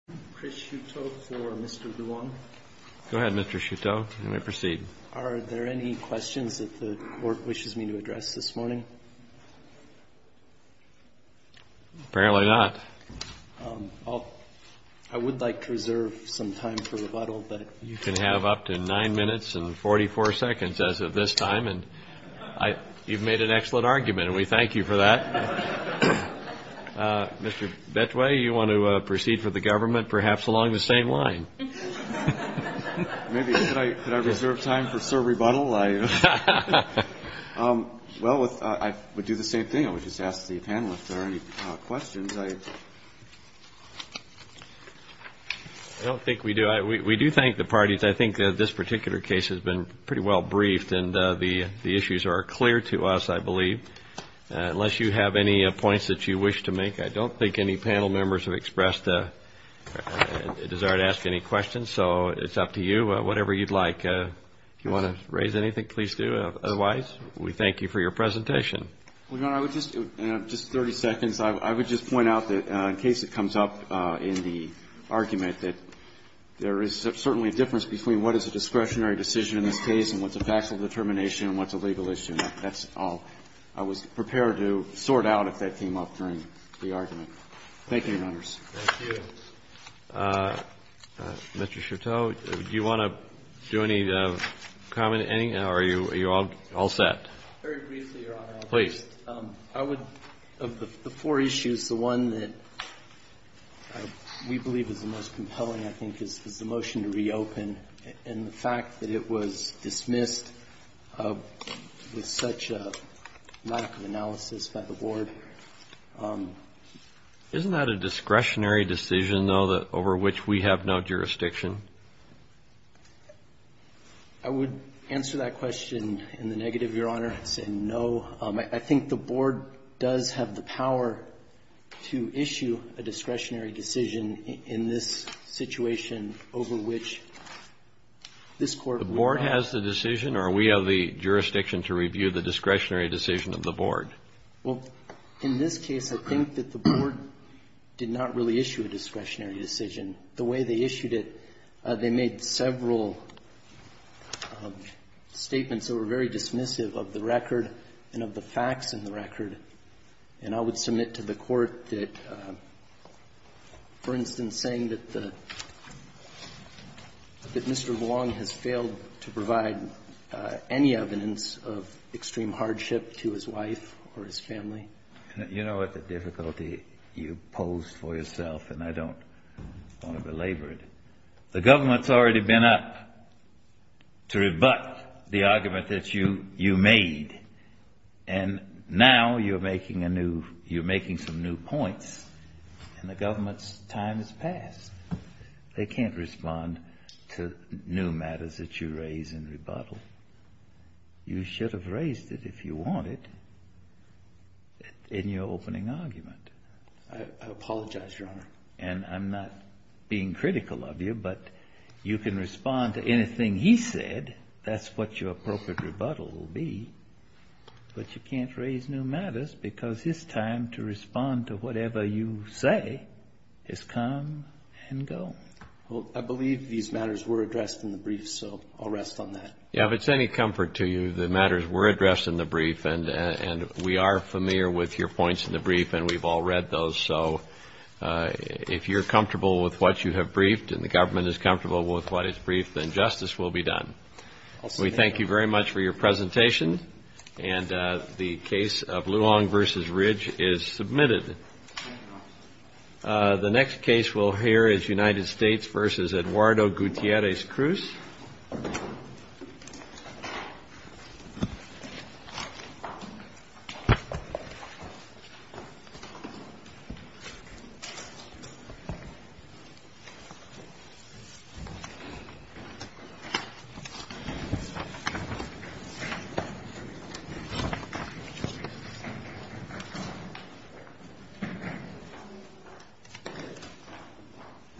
Are there any questions that the Court wishes me to address this morning? Apparently not. I would like to reserve some time for rebuttal. You can have up to nine minutes and 44 seconds as of this time, and you've made an excellent argument, and we thank you for that. Mr. Betway, you want to proceed for the government, perhaps along the same line? Maybe. Could I reserve time for, sir, rebuttal? Well, I would do the same thing. I would just ask the panel if there are any questions. I don't think we do. We do thank the parties. I think that this particular case has been pretty well briefed, and the issues are clear to us, I believe, unless you have any points that you wish to make. I don't think any panel members have expressed a desire to ask any questions, so it's up to you. Whatever you'd like. If you want to raise anything, please do. Otherwise, we thank you for your presentation. Well, Your Honor, I would just, in just 30 seconds, I would just point out that in case it comes up in the argument, that there is certainly a difference between what is a discretionary decision in this case and what's a factual determination and what's a legal issue. That's all. I was prepared to sort out if that came up during the argument. Thank you, Your Honors. Thank you. Mr. Chateau, do you want to do any comment, any? Or are you all set? Very briefly, Your Honor. Please. I would, of the four issues, the one that we believe is the most compelling, I think, is the motion to reopen and the fact that it was dismissed with such a lack of analysis by the Board. Isn't that a discretionary decision, though, over which we have no jurisdiction? I would answer that question in the negative, Your Honor, saying no. I think the Board does have the power to issue a discretionary decision in this situation over which this Court would not. The Board has the decision or we have the jurisdiction to review the discretionary decision of the Board? Well, in this case, I think that the Board did not really issue a discretionary decision. The way they issued it, they made several statements that were very dismissive of the record and of the facts in the record. And I would submit to the Court that, for instance, saying that Mr. Vuong has failed to provide any evidence of extreme hardship to his wife or his family. You know what the difficulty you pose for yourself, and I don't want to belabor it. The government's already been up to rebut the argument that you made. And now you're making a new you're making some new points. And the government's time has passed. They can't respond to new matters that you raise in rebuttal. You should have raised it if you wanted in your opening argument. I apologize, Your Honor. And I'm not being critical of you, but you can respond to anything he said. That's what your appropriate rebuttal will be. But you can't raise new matters because his time to respond to whatever you say has come and gone. Well, I believe these matters were addressed in the brief, so I'll rest on that. Yeah, if it's any comfort to you, the matters were addressed in the brief, and we are familiar with your points in the brief, and we've all read those. So if you're comfortable with what you have briefed and the government is comfortable with what is briefed, then justice will be done. We thank you very much for your presentation. And the case of Luong v. Ridge is submitted. The next case we'll hear is United States v. Eduardo Gutierrez Cruz. Thank you.